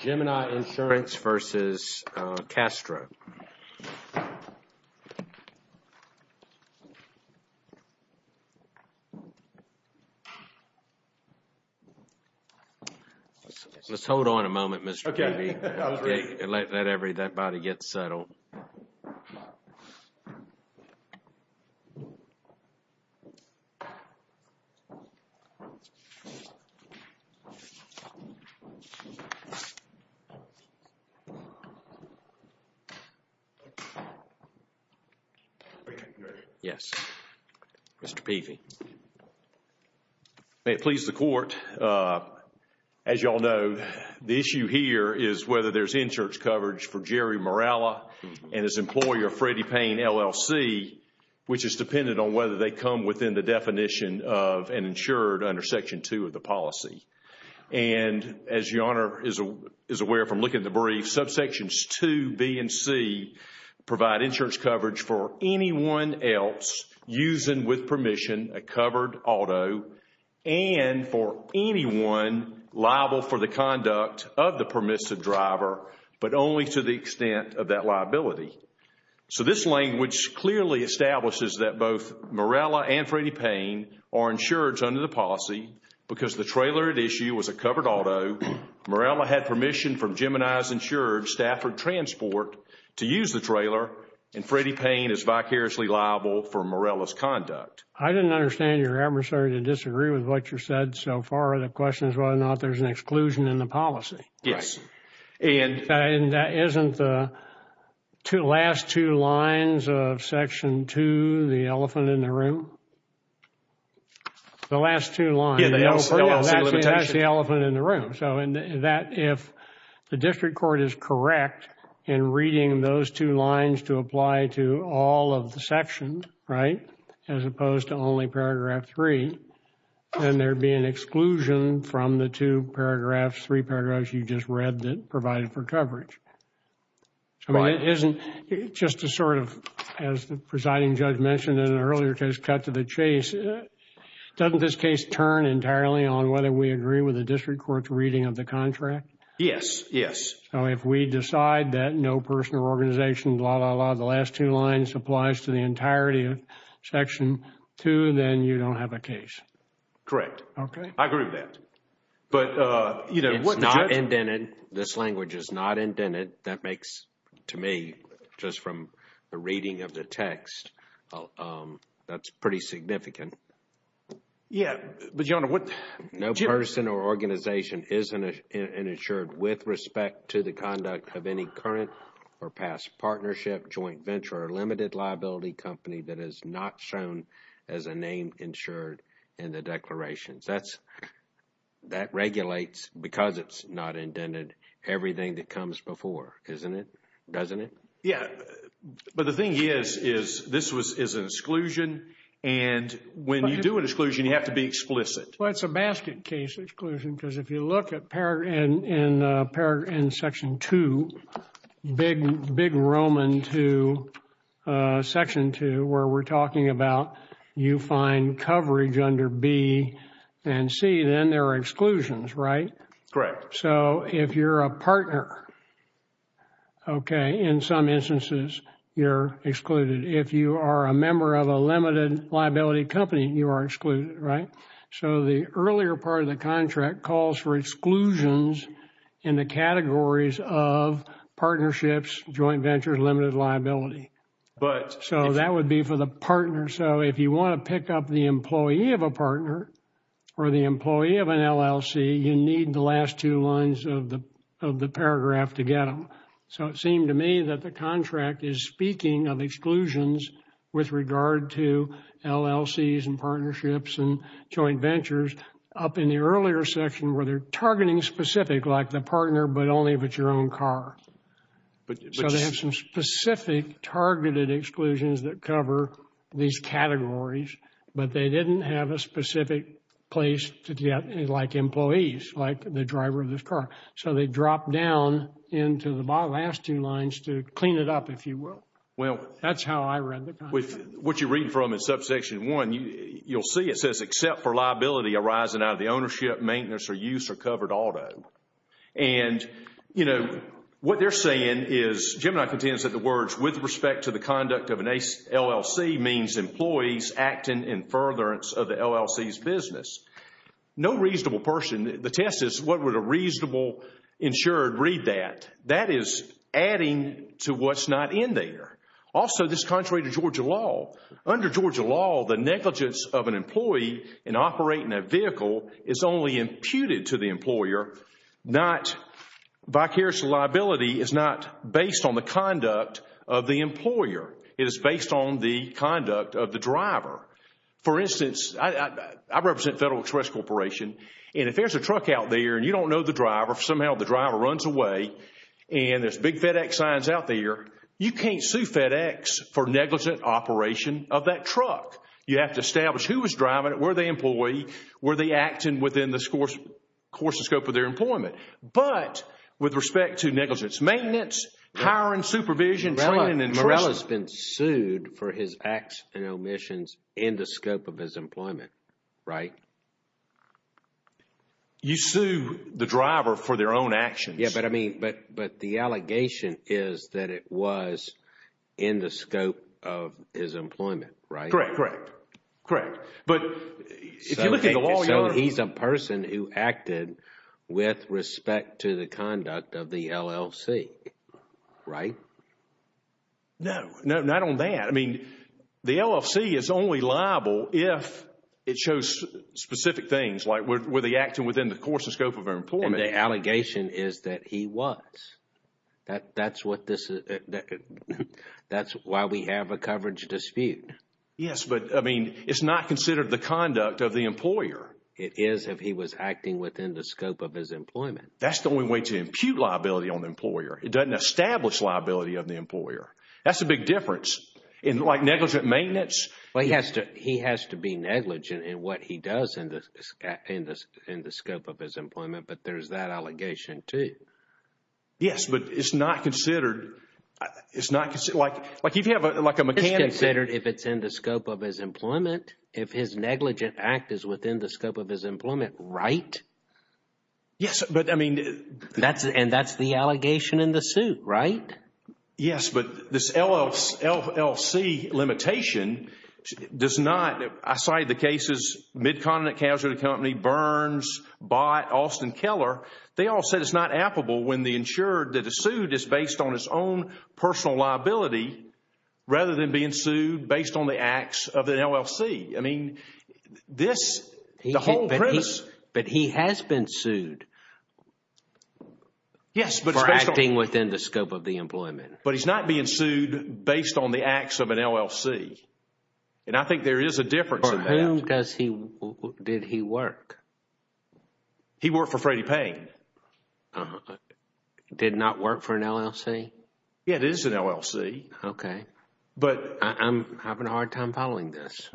Gemini Insurance v. Castro Let's hold on a moment, Mr. Keeley, and let that body get settled. May it please the Court, as you all know, the issue here is whether there's insurance coverage for Jerry Morrella and his employer, Freddie Payne, LLC, which is dependent on whether they come within the definition of an insured under Section 2 of the policy. And as Your Honor is aware from looking at the brief, subsections 2b and c provide insurance coverage for anyone else using with permission a covered auto and for anyone liable for the conduct of the permissive driver, but only to the extent of that liability. So this language clearly establishes that both Morrella and Freddie Payne are insured under the policy, because the trailer at issue was a covered auto, Morrella had permission from Gemini's insured Stafford Transport to use the trailer, and Freddie Payne is vicariously liable for Morrella's conduct. I didn't understand your adversary to disagree with what you said so far. The question is whether or not there's an exclusion in the policy. Yes. And that isn't the last two lines of Section 2, the elephant in the room? The last two lines, that's the elephant in the room. So that if the district court is correct in reading those two lines to apply to all of the sections, right, as opposed to only Paragraph 3, then there'd be an exclusion from the two paragraphs, three paragraphs you just read that provided for coverage. I mean, it isn't just a sort of, as the presiding judge mentioned in an earlier case, cut to the chase. Doesn't this case turn entirely on whether we agree with the district court's reading of the contract? Yes. Yes. So if we decide that no person or organization, blah, blah, blah, the last two lines applies to the entirety of Section 2, then you don't have a case? Correct. Okay. I agree with that. But, you know, what judge- It's not indented. This language is not indented. That makes, to me, just from the reading of the text, that's pretty significant. Yeah. But, Your Honor, what- No person or organization is an insured with respect to the conduct of any current or past partnership, joint venture, or limited liability company that is not shown as a name insured in the declarations. That's, that regulates, because it's not indented, everything that comes before, isn't it? Doesn't it? Yeah. But the thing is, is this was, is an exclusion, and when you do an exclusion, you have to be explicit. Well, it's a basket case exclusion, because if you look at paragraph, in Section 2, big Roman 2, Section 2, where we're talking about you find coverage under B and C, then there are exclusions, right? Correct. So, if you're a partner, okay, in some instances, you're excluded. If you are a member of a limited liability company, you are excluded, right? So the earlier part of the contract calls for exclusions in the categories of partnerships, joint ventures, limited liability. So that would be for the partner. So if you want to pick up the employee of a partner or the employee of an LLC, you need the last two lines of the paragraph to get them. So it seemed to me that the contract is speaking of exclusions with regard to LLCs and partnerships and joint ventures up in the earlier section where they're targeting specific, like the partner, but only if it's your own car. So they have some specific targeted exclusions that cover these categories, but they didn't have a specific place to get, like employees, like the driver of this car. So they dropped down into the last two lines to clean it up, if you will. Well, that's how I read the contract. What you read from in Subsection 1, you'll see it says, except for liability arising out of the ownership, maintenance, or use of covered auto. And what they're saying is, Gemini contends that the words, with respect to the conduct of an LLC, means employees acting in furtherance of the LLC's business. No reasonable person, the test is what would a reasonable insured read that? That is adding to what's not in there. Also this is contrary to Georgia law. Under Georgia law, the negligence of an employee in operating a vehicle is only imputed to the employer, not, vicarious liability is not based on the conduct of the employer. It is based on the conduct of the driver. For instance, I represent Federal Express Corporation, and if there's a truck out there and you don't know the driver, somehow the driver runs away, and there's big FedEx signs out there, you can't sue FedEx for negligent operation of that truck. You have to establish who was driving it, where the employee, were they acting within the course and scope of their employment. But with respect to negligence, maintenance, hiring, supervision, training, and trust- Morello's been sued for his acts and omissions in the scope of his employment, right? You sue the driver for their own actions. Yeah, but I mean, but the allegation is that it was in the scope of his employment, right? Correct, correct, correct. But if you look at the law- So he's a person who acted with respect to the conduct of the LLC, right? No, no, not on that. I mean, the LLC is only liable if it shows specific things, like were they acting within the course and scope of their employment. But the allegation is that he was. That's why we have a coverage dispute. Yes, but I mean, it's not considered the conduct of the employer. It is if he was acting within the scope of his employment. That's the only way to impute liability on the employer. It doesn't establish liability of the employer. That's a big difference. And like negligent maintenance- He has to be negligent in what he does in the scope of his employment, but there's that allegation too. Yes, but it's not considered, like if you have like a mechanic- It's considered if it's in the scope of his employment, if his negligent act is within the scope of his employment, right? Yes, but I mean- And that's the allegation in the suit, right? Yes, but this LLC limitation does not, aside the cases, Mid-Continent Casualty Company, Burns, Bott, Austin Keller, they all said it's not applicable when they ensured that a suit is based on its own personal liability rather than being sued based on the acts of the LLC. I mean, this, the whole premise- But he's not being sued based on the acts of an LLC, and I think there is a difference in that. For whom did he work? He worked for Freddie Payne. Did not work for an LLC? Yes, it is an LLC. Okay. But- I'm having a hard time following this.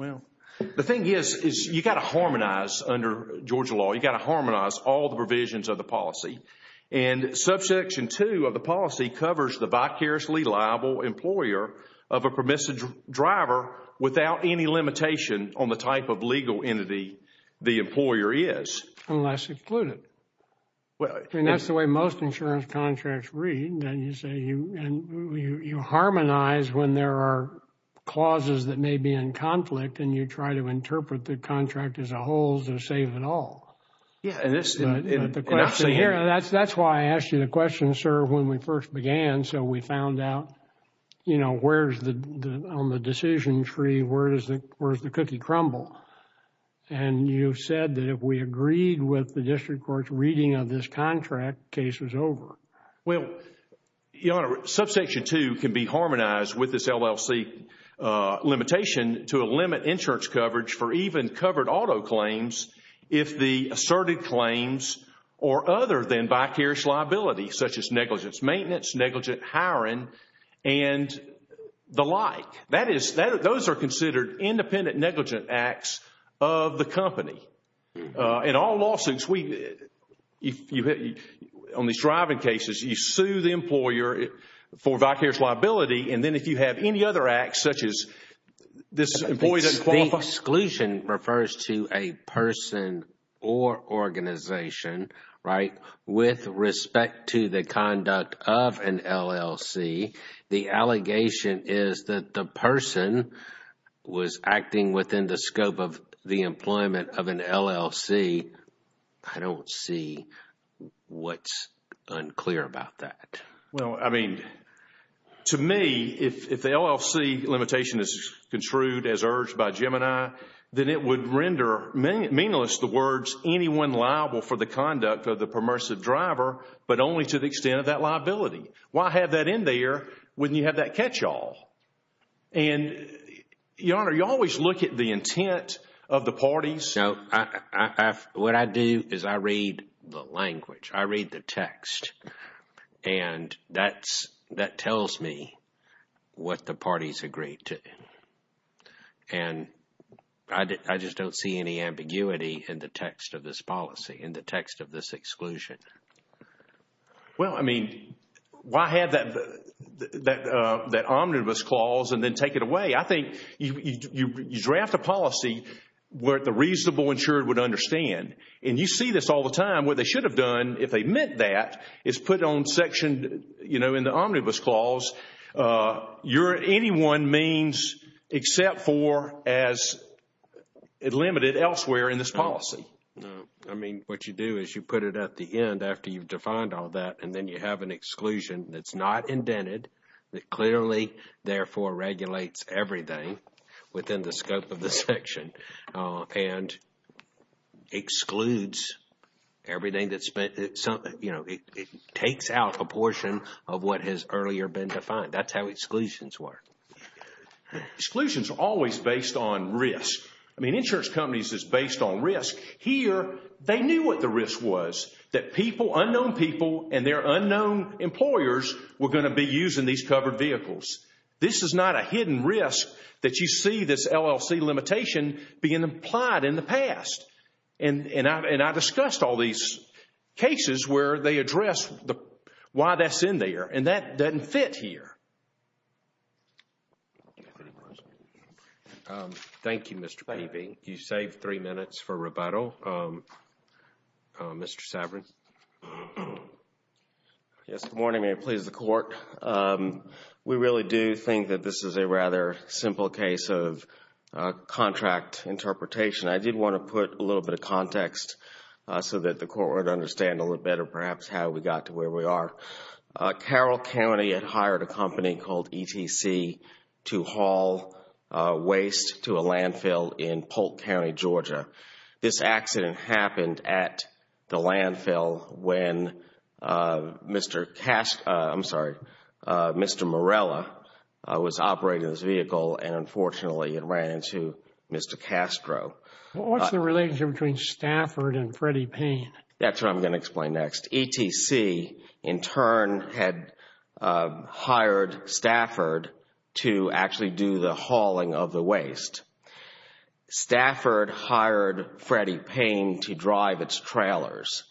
The thing is, you got to harmonize under Georgia law, you got to harmonize all the provisions of the policy. And subsection two of the policy covers the vicariously liable employer of a permissive driver without any limitation on the type of legal entity the employer is. Unless included. Well- I mean, that's the way most insurance contracts read, and you harmonize when there are clauses that may be in conflict, and you try to interpret the contract as a whole to save it all. Yeah, and it's- And I've seen it. And I've seen it. That's why I asked you the question, sir, when we first began, so we found out, you know, where's the, on the decision tree, where does the cookie crumble? And you said that if we agreed with the district court's reading of this contract, the case was over. Well, Your Honor, subsection two can be harmonized with this LLC limitation to limit insurance coverage for even covered auto claims if the asserted claims are other than vicarious liability, such as negligence maintenance, negligent hiring, and the like. That is, those are considered independent negligent acts of the company. In all lawsuits, if you hit, on these driving cases, you sue the employer for vicarious exclusion refers to a person or organization, right, with respect to the conduct of an LLC. The allegation is that the person was acting within the scope of the employment of an LLC. I don't see what's unclear about that. Well, I mean, to me, if the LLC limitation is construed as urged by Gemini, then it would render meaningless the words, anyone liable for the conduct of the permissive driver, but only to the extent of that liability. Why have that in there when you have that catch-all? And Your Honor, you always look at the intent of the parties. No, what I do is I read the language, I read the text, and that tells me what the parties agreed to. And I just don't see any ambiguity in the text of this policy, in the text of this exclusion. Well, I mean, why have that omnibus clause and then take it away? I think you draft a policy where the reasonable insured would understand, and you see this all the time. What they should have done, if they meant that, is put on section, you know, in the omnibus clause, your anyone means except for as limited elsewhere in this policy. No, I mean, what you do is you put it at the end after you've defined all that, and then you have an exclusion that's not indented, that clearly, therefore, regulates everything within the scope of the section, and excludes everything that's been, you know, it takes out a portion of what has earlier been defined. That's how exclusions work. Exclusions are always based on risk. I mean, insurance companies is based on risk. Here, they knew what the risk was, that people, unknown people, and their unknown employers were going to be using these covered vehicles. This is not a hidden risk that you see this LLC limitation being applied in the past. And I discussed all these cases where they address why that's in there, and that doesn't fit here. Thank you, Mr. Paving. You saved three minutes for rebuttal. Mr. Saverin. Yes, good morning, may it please the Court. We really do think that this is a rather simple case of contract interpretation. I did want to put a little bit of context so that the Court would understand a little better perhaps how we got to where we are. Carroll County had hired a company called ETC to haul waste to a landfill in Polk County, Georgia. This accident happened at the landfill when Mr. Castro, I'm sorry, Mr. Morella was operating this vehicle and unfortunately it ran into Mr. Castro. What's the relationship between Stafford and Freddie Payne? That's what I'm going to explain next. ETC, in turn, had hired Stafford to actually do the hauling of the waste. Stafford hired Freddie Payne to drive its trailers.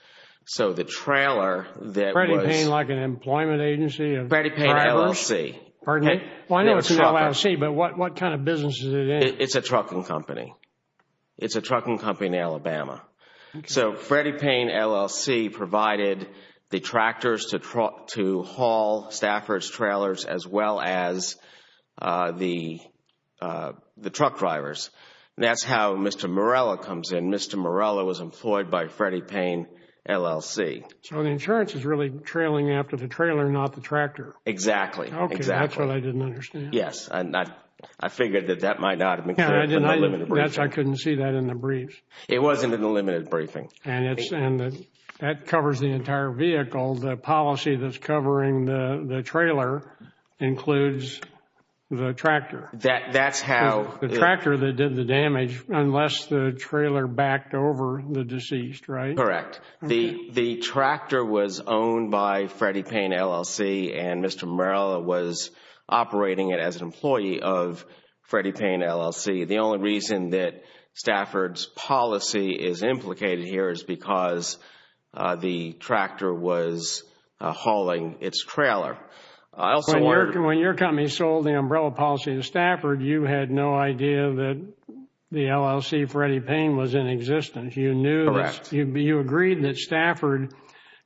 So the trailer that was... Freddie Payne, like an employment agency? Freddie Payne LLC. Pardon me? Well, I know it's an LLC, but what kind of business is it in? It's a trucking company in Alabama. So Freddie Payne LLC provided the tractors to haul Stafford's trailers as well as the truck drivers. That's how Mr. Morella comes in. Mr. Morella was employed by Freddie Payne LLC. So the insurance is really trailing after the trailer, not the tractor? Exactly. Okay. That's what I didn't understand. Yes. I figured that that might not have been clear. I didn't see that in the briefs. It wasn't in the limited briefing. And that covers the entire vehicle. The policy that's covering the trailer includes the tractor. That's how... The tractor that did the damage, unless the trailer backed over the deceased, right? Correct. The tractor was owned by Freddie Payne LLC and Mr. Morella was operating it as an employee of Freddie Payne LLC. The only reason that Stafford's policy is implicated here is because the tractor was hauling its trailer. When your company sold the umbrella policy to Stafford, you had no idea that the LLC, Freddie Payne, was in existence. You knew... Correct. You agreed that Stafford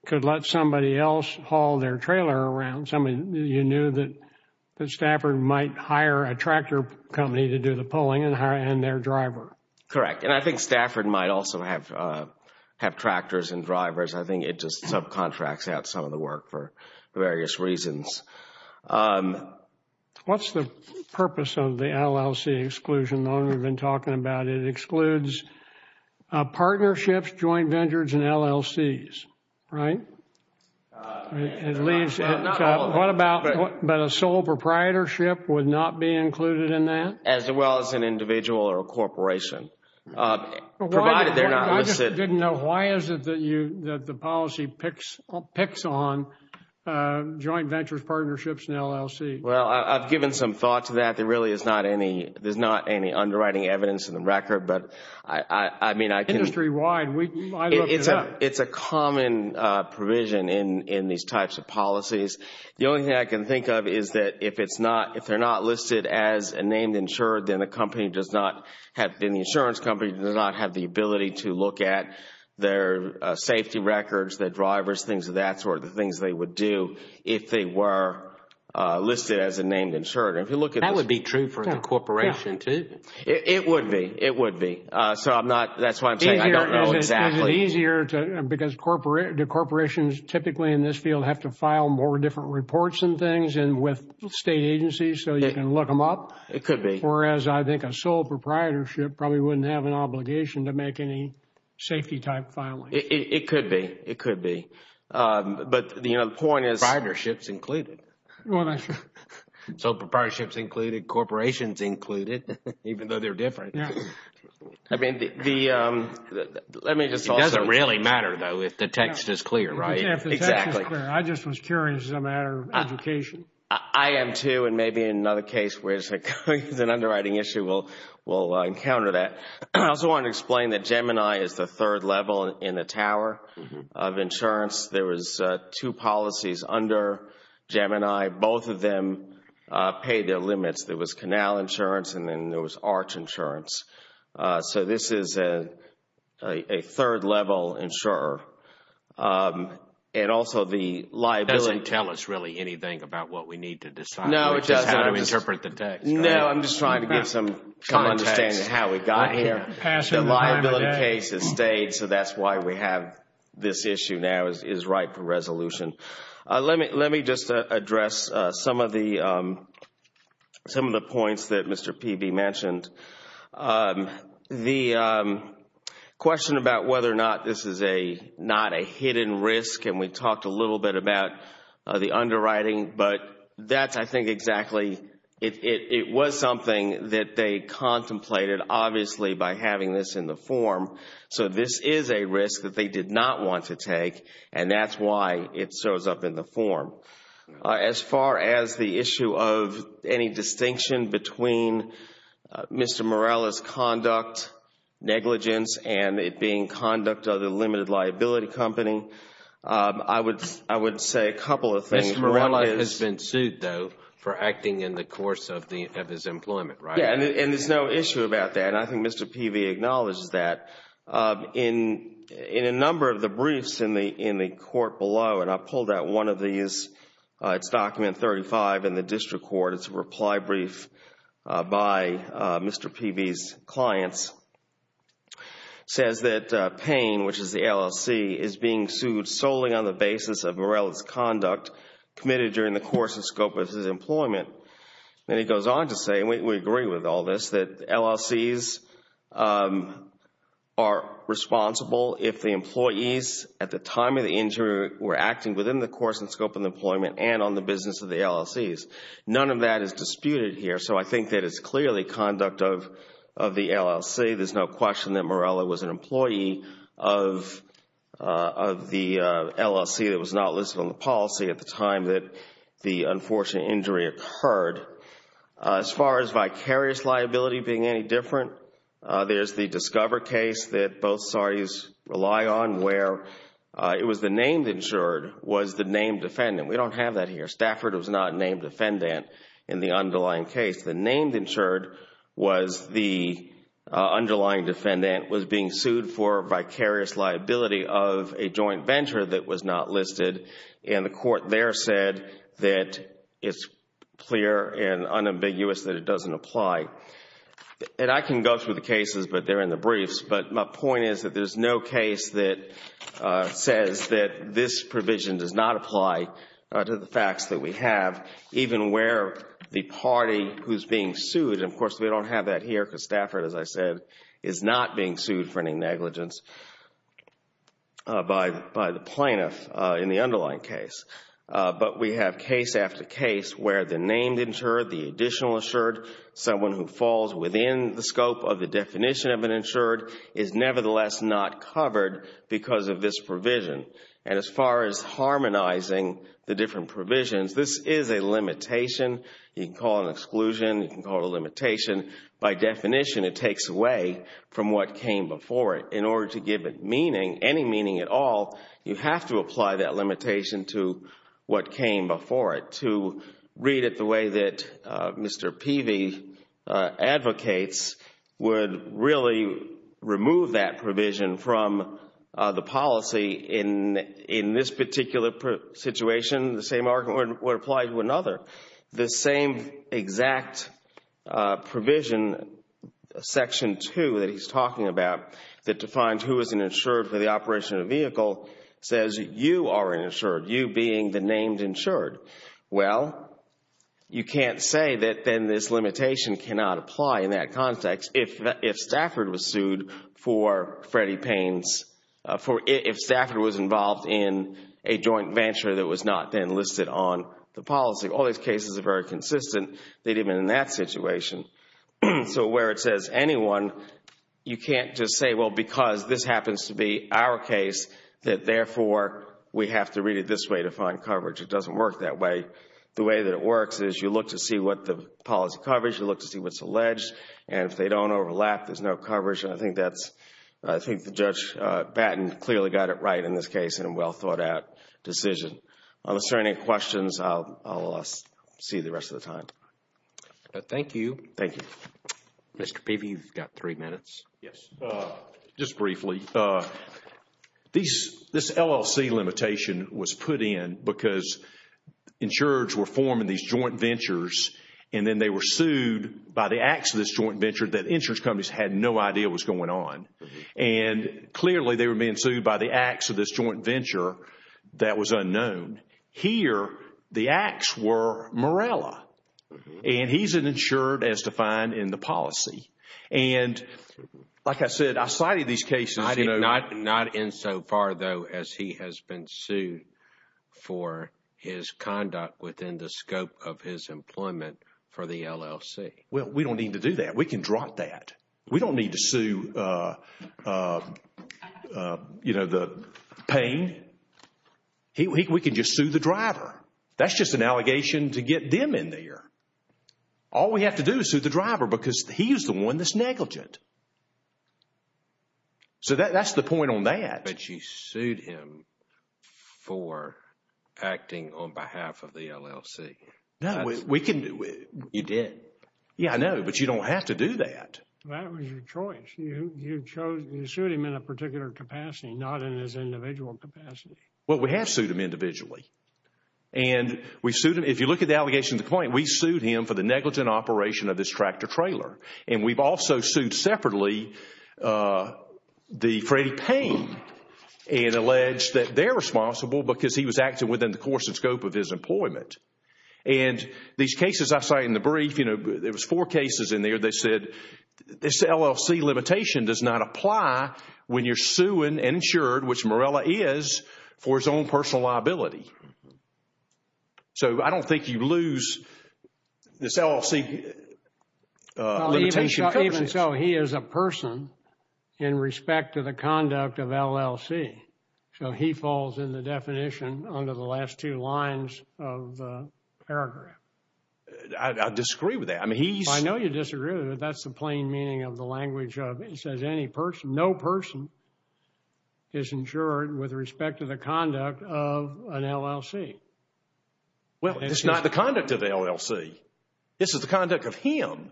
could let somebody else haul their trailer around. You knew that Stafford might hire a tractor company to do the pulling and hire their driver. Correct. And I think Stafford might also have tractors and drivers. I think it just subcontracts out some of the work for various reasons. What's the purpose of the LLC exclusion, the one we've been talking about? It excludes partnerships, joint ventures, and LLCs, right? It leaves... Not all of them. What about... But a sole proprietorship would not be included in that? As well as an individual or a corporation, provided they're not listed. I just didn't know. Why is it that the policy picks on joint ventures, partnerships, and LLC? Well, I've given some thought to that. There really is not any... There's not any underwriting evidence in the record, but I mean, I can... Industry-wide, I'd look it up. It's a common provision in these types of policies. The only thing I can think of is that if they're not listed as a named insured, then the insurance company does not have the ability to look at their safety records, their drivers, things of that sort, the things they would do if they were listed as a named insured. If you look at this... That would be true for the corporation, too. It would be. It would be. So I'm not... That's why I'm saying I don't know exactly. I mean, is it easier to... Because the corporations typically in this field have to file more different reports and things and with state agencies so you can look them up? It could be. Whereas I think a sole proprietorship probably wouldn't have an obligation to make any safety type filing. It could be. It could be. But, you know, the point is proprietorship's included. So proprietorship's included, corporation's included, even though they're different. Yeah. I mean, the... Let me just also... It doesn't really matter, though, if the text is clear, right? Exactly. If the text is clear. I just was curious. It's a matter of education. I am, too. And maybe in another case where it's an underwriting issue, we'll encounter that. I also want to explain that Gemini is the third level in the tower of insurance. There was two policies under Gemini. Both of them paid their limits. There was canal insurance and then there was arch insurance. So this is a third level insurer. And also the liability... It doesn't tell us really anything about what we need to decide. No, it doesn't. It's just how to interpret the text. No, I'm just trying to get some context. Trying to understand how we got here. The liability case has stayed, so that's why we have this issue now is right for resolution. Let me just address some of the points that Mr. Peavy mentioned. The question about whether or not this is not a hidden risk, and we talked a little bit about the underwriting, but that's, I think, exactly... It was something that they contemplated, obviously, by having this in the form. So this is a risk that they did not want to take, and that's why it shows up in the form. As far as the issue of any distinction between Mr. Morella's conduct, negligence, and it being conduct of the limited liability company, I would say a couple of things. Mr. Morella has been sued, though, for acting in the course of his employment, right? Yeah, and there's no issue about that. And I think Mr. Peavy acknowledges that. In a number of the briefs in the court below, and I pulled out one of these, it's document 35 in the district court, it's a reply brief by Mr. Peavy's clients, says that Payne, which is the LLC, is being sued solely on the basis of Morella's conduct committed during the course and scope of his employment, and he goes on to say, and we agree with all this, that LLCs are responsible if the employees at the time of the injury were acting within the course and scope of employment and on the business of the LLCs. None of that is disputed here, so I think that it's clearly conduct of the LLC. There's no question that Morella was an employee of the LLC that was not listed on the policy at the time that the unfortunate injury occurred. As far as vicarious liability being any different, there's the Discover case that both parties rely on where it was the named insured was the named defendant. We don't have that here. Stafford was not named defendant in the underlying case. The named insured was the underlying defendant was being sued for vicarious liability of a joint venture that was not listed, and the court there said that it's clear and unambiguous that it doesn't apply. I can go through the cases, but they're in the briefs, but my point is that there's no case that says that this provision does not apply to the facts that we have, even where the party who's being sued, and of course, we don't have that here because Stafford, as I said, is not being sued for any negligence by the plaintiff in the underlying case. But we have case after case where the named insured, the additional insured, someone who falls within the scope of the definition of an insured is nevertheless not covered because of this provision. As far as harmonizing the different provisions, this is a limitation. You can call it an exclusion. You can call it a limitation. By definition, it takes away from what came before it. In order to give it meaning, any meaning at all, you have to apply that limitation to what came before it. To read it the way that Mr. Peavy advocates would really remove that provision from the policy in this particular situation, the same argument would apply to another. The same exact provision, Section 2 that he's talking about, that defines who is an insured for the operation of a vehicle, says you are an insured, you being the named insured. Well, you can't say that then this limitation cannot apply in that context if Stafford was sued for Freddie Payne's, if Stafford was involved in a joint venture that was not then listed on the policy. All these cases are very consistent, even in that situation. So where it says anyone, you can't just say, well, because this happens to be our case, that therefore we have to read it this way to find coverage. It doesn't work that way. The way that it works is you look to see what the policy coverage, you look to see what's alleged, and if they don't overlap, there's no coverage. I think Judge Batten clearly got it right in this case in a well-thought-out decision. If there are any questions, I'll see you the rest of the time. Thank you. Thank you. Mr. Peavy, you've got three minutes. Yes. Just briefly. This LLC limitation was put in because insurers were forming these joint ventures and then they were sued by the acts of this joint venture that insurance companies had no idea was going on. Clearly, they were being sued by the acts of this joint venture that was unknown. Here, the acts were Morella, and he's an insured as defined in the policy. Like I said, I cited these cases- Not in so far, though, as he has been sued for his conduct within the scope of his employment for the LLC. Well, we don't need to do that. We can drop that. We don't need to sue the pain. We can just sue the driver. That's just an allegation to get them in there. All we have to do is sue the driver because he's the one that's negligent. That's the point on that. But you sued him for acting on behalf of the LLC. No. We can do it. You did? Yeah, I know. You can do that, but you don't have to do that. That was your choice. You sued him in a particular capacity, not in his individual capacity. Well, we have sued him individually. If you look at the allegation to the point, we sued him for the negligent operation of his tractor trailer. We've also sued separately the Freddie Payne and alleged that they're responsible because he was acting within the course and scope of his employment. These cases I cite in the brief, there was four cases in there that said this LLC limitation does not apply when you're suing and insured, which Morella is, for his own personal liability. So I don't think you lose this LLC limitation. Even so, he is a person in respect to the conduct of LLC, so he falls in the definition under the last two lines of the paragraph. I disagree with that. I mean, he's- I know you disagree with it, but that's the plain meaning of the language of it. It says no person is insured with respect to the conduct of an LLC. Well, it's not the conduct of the LLC. This is the conduct of him.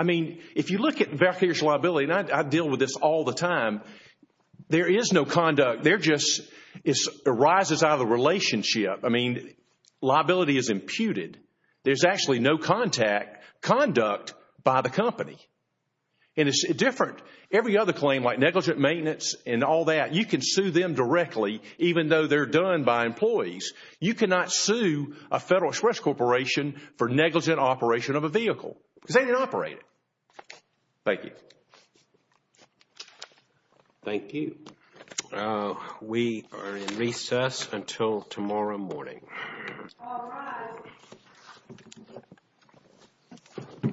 If you look at the back of his liability, and I deal with this all the time, there is no conduct. They're just- it arises out of the relationship. I mean, liability is imputed. There's actually no contact, conduct by the company. And it's different. Every other claim like negligent maintenance and all that, you can sue them directly even though they're done by employees. You cannot sue a Federal Express Corporation for negligent operation of a vehicle because they didn't operate it. Thank you. Thank you. We are in recess until tomorrow morning. All rise.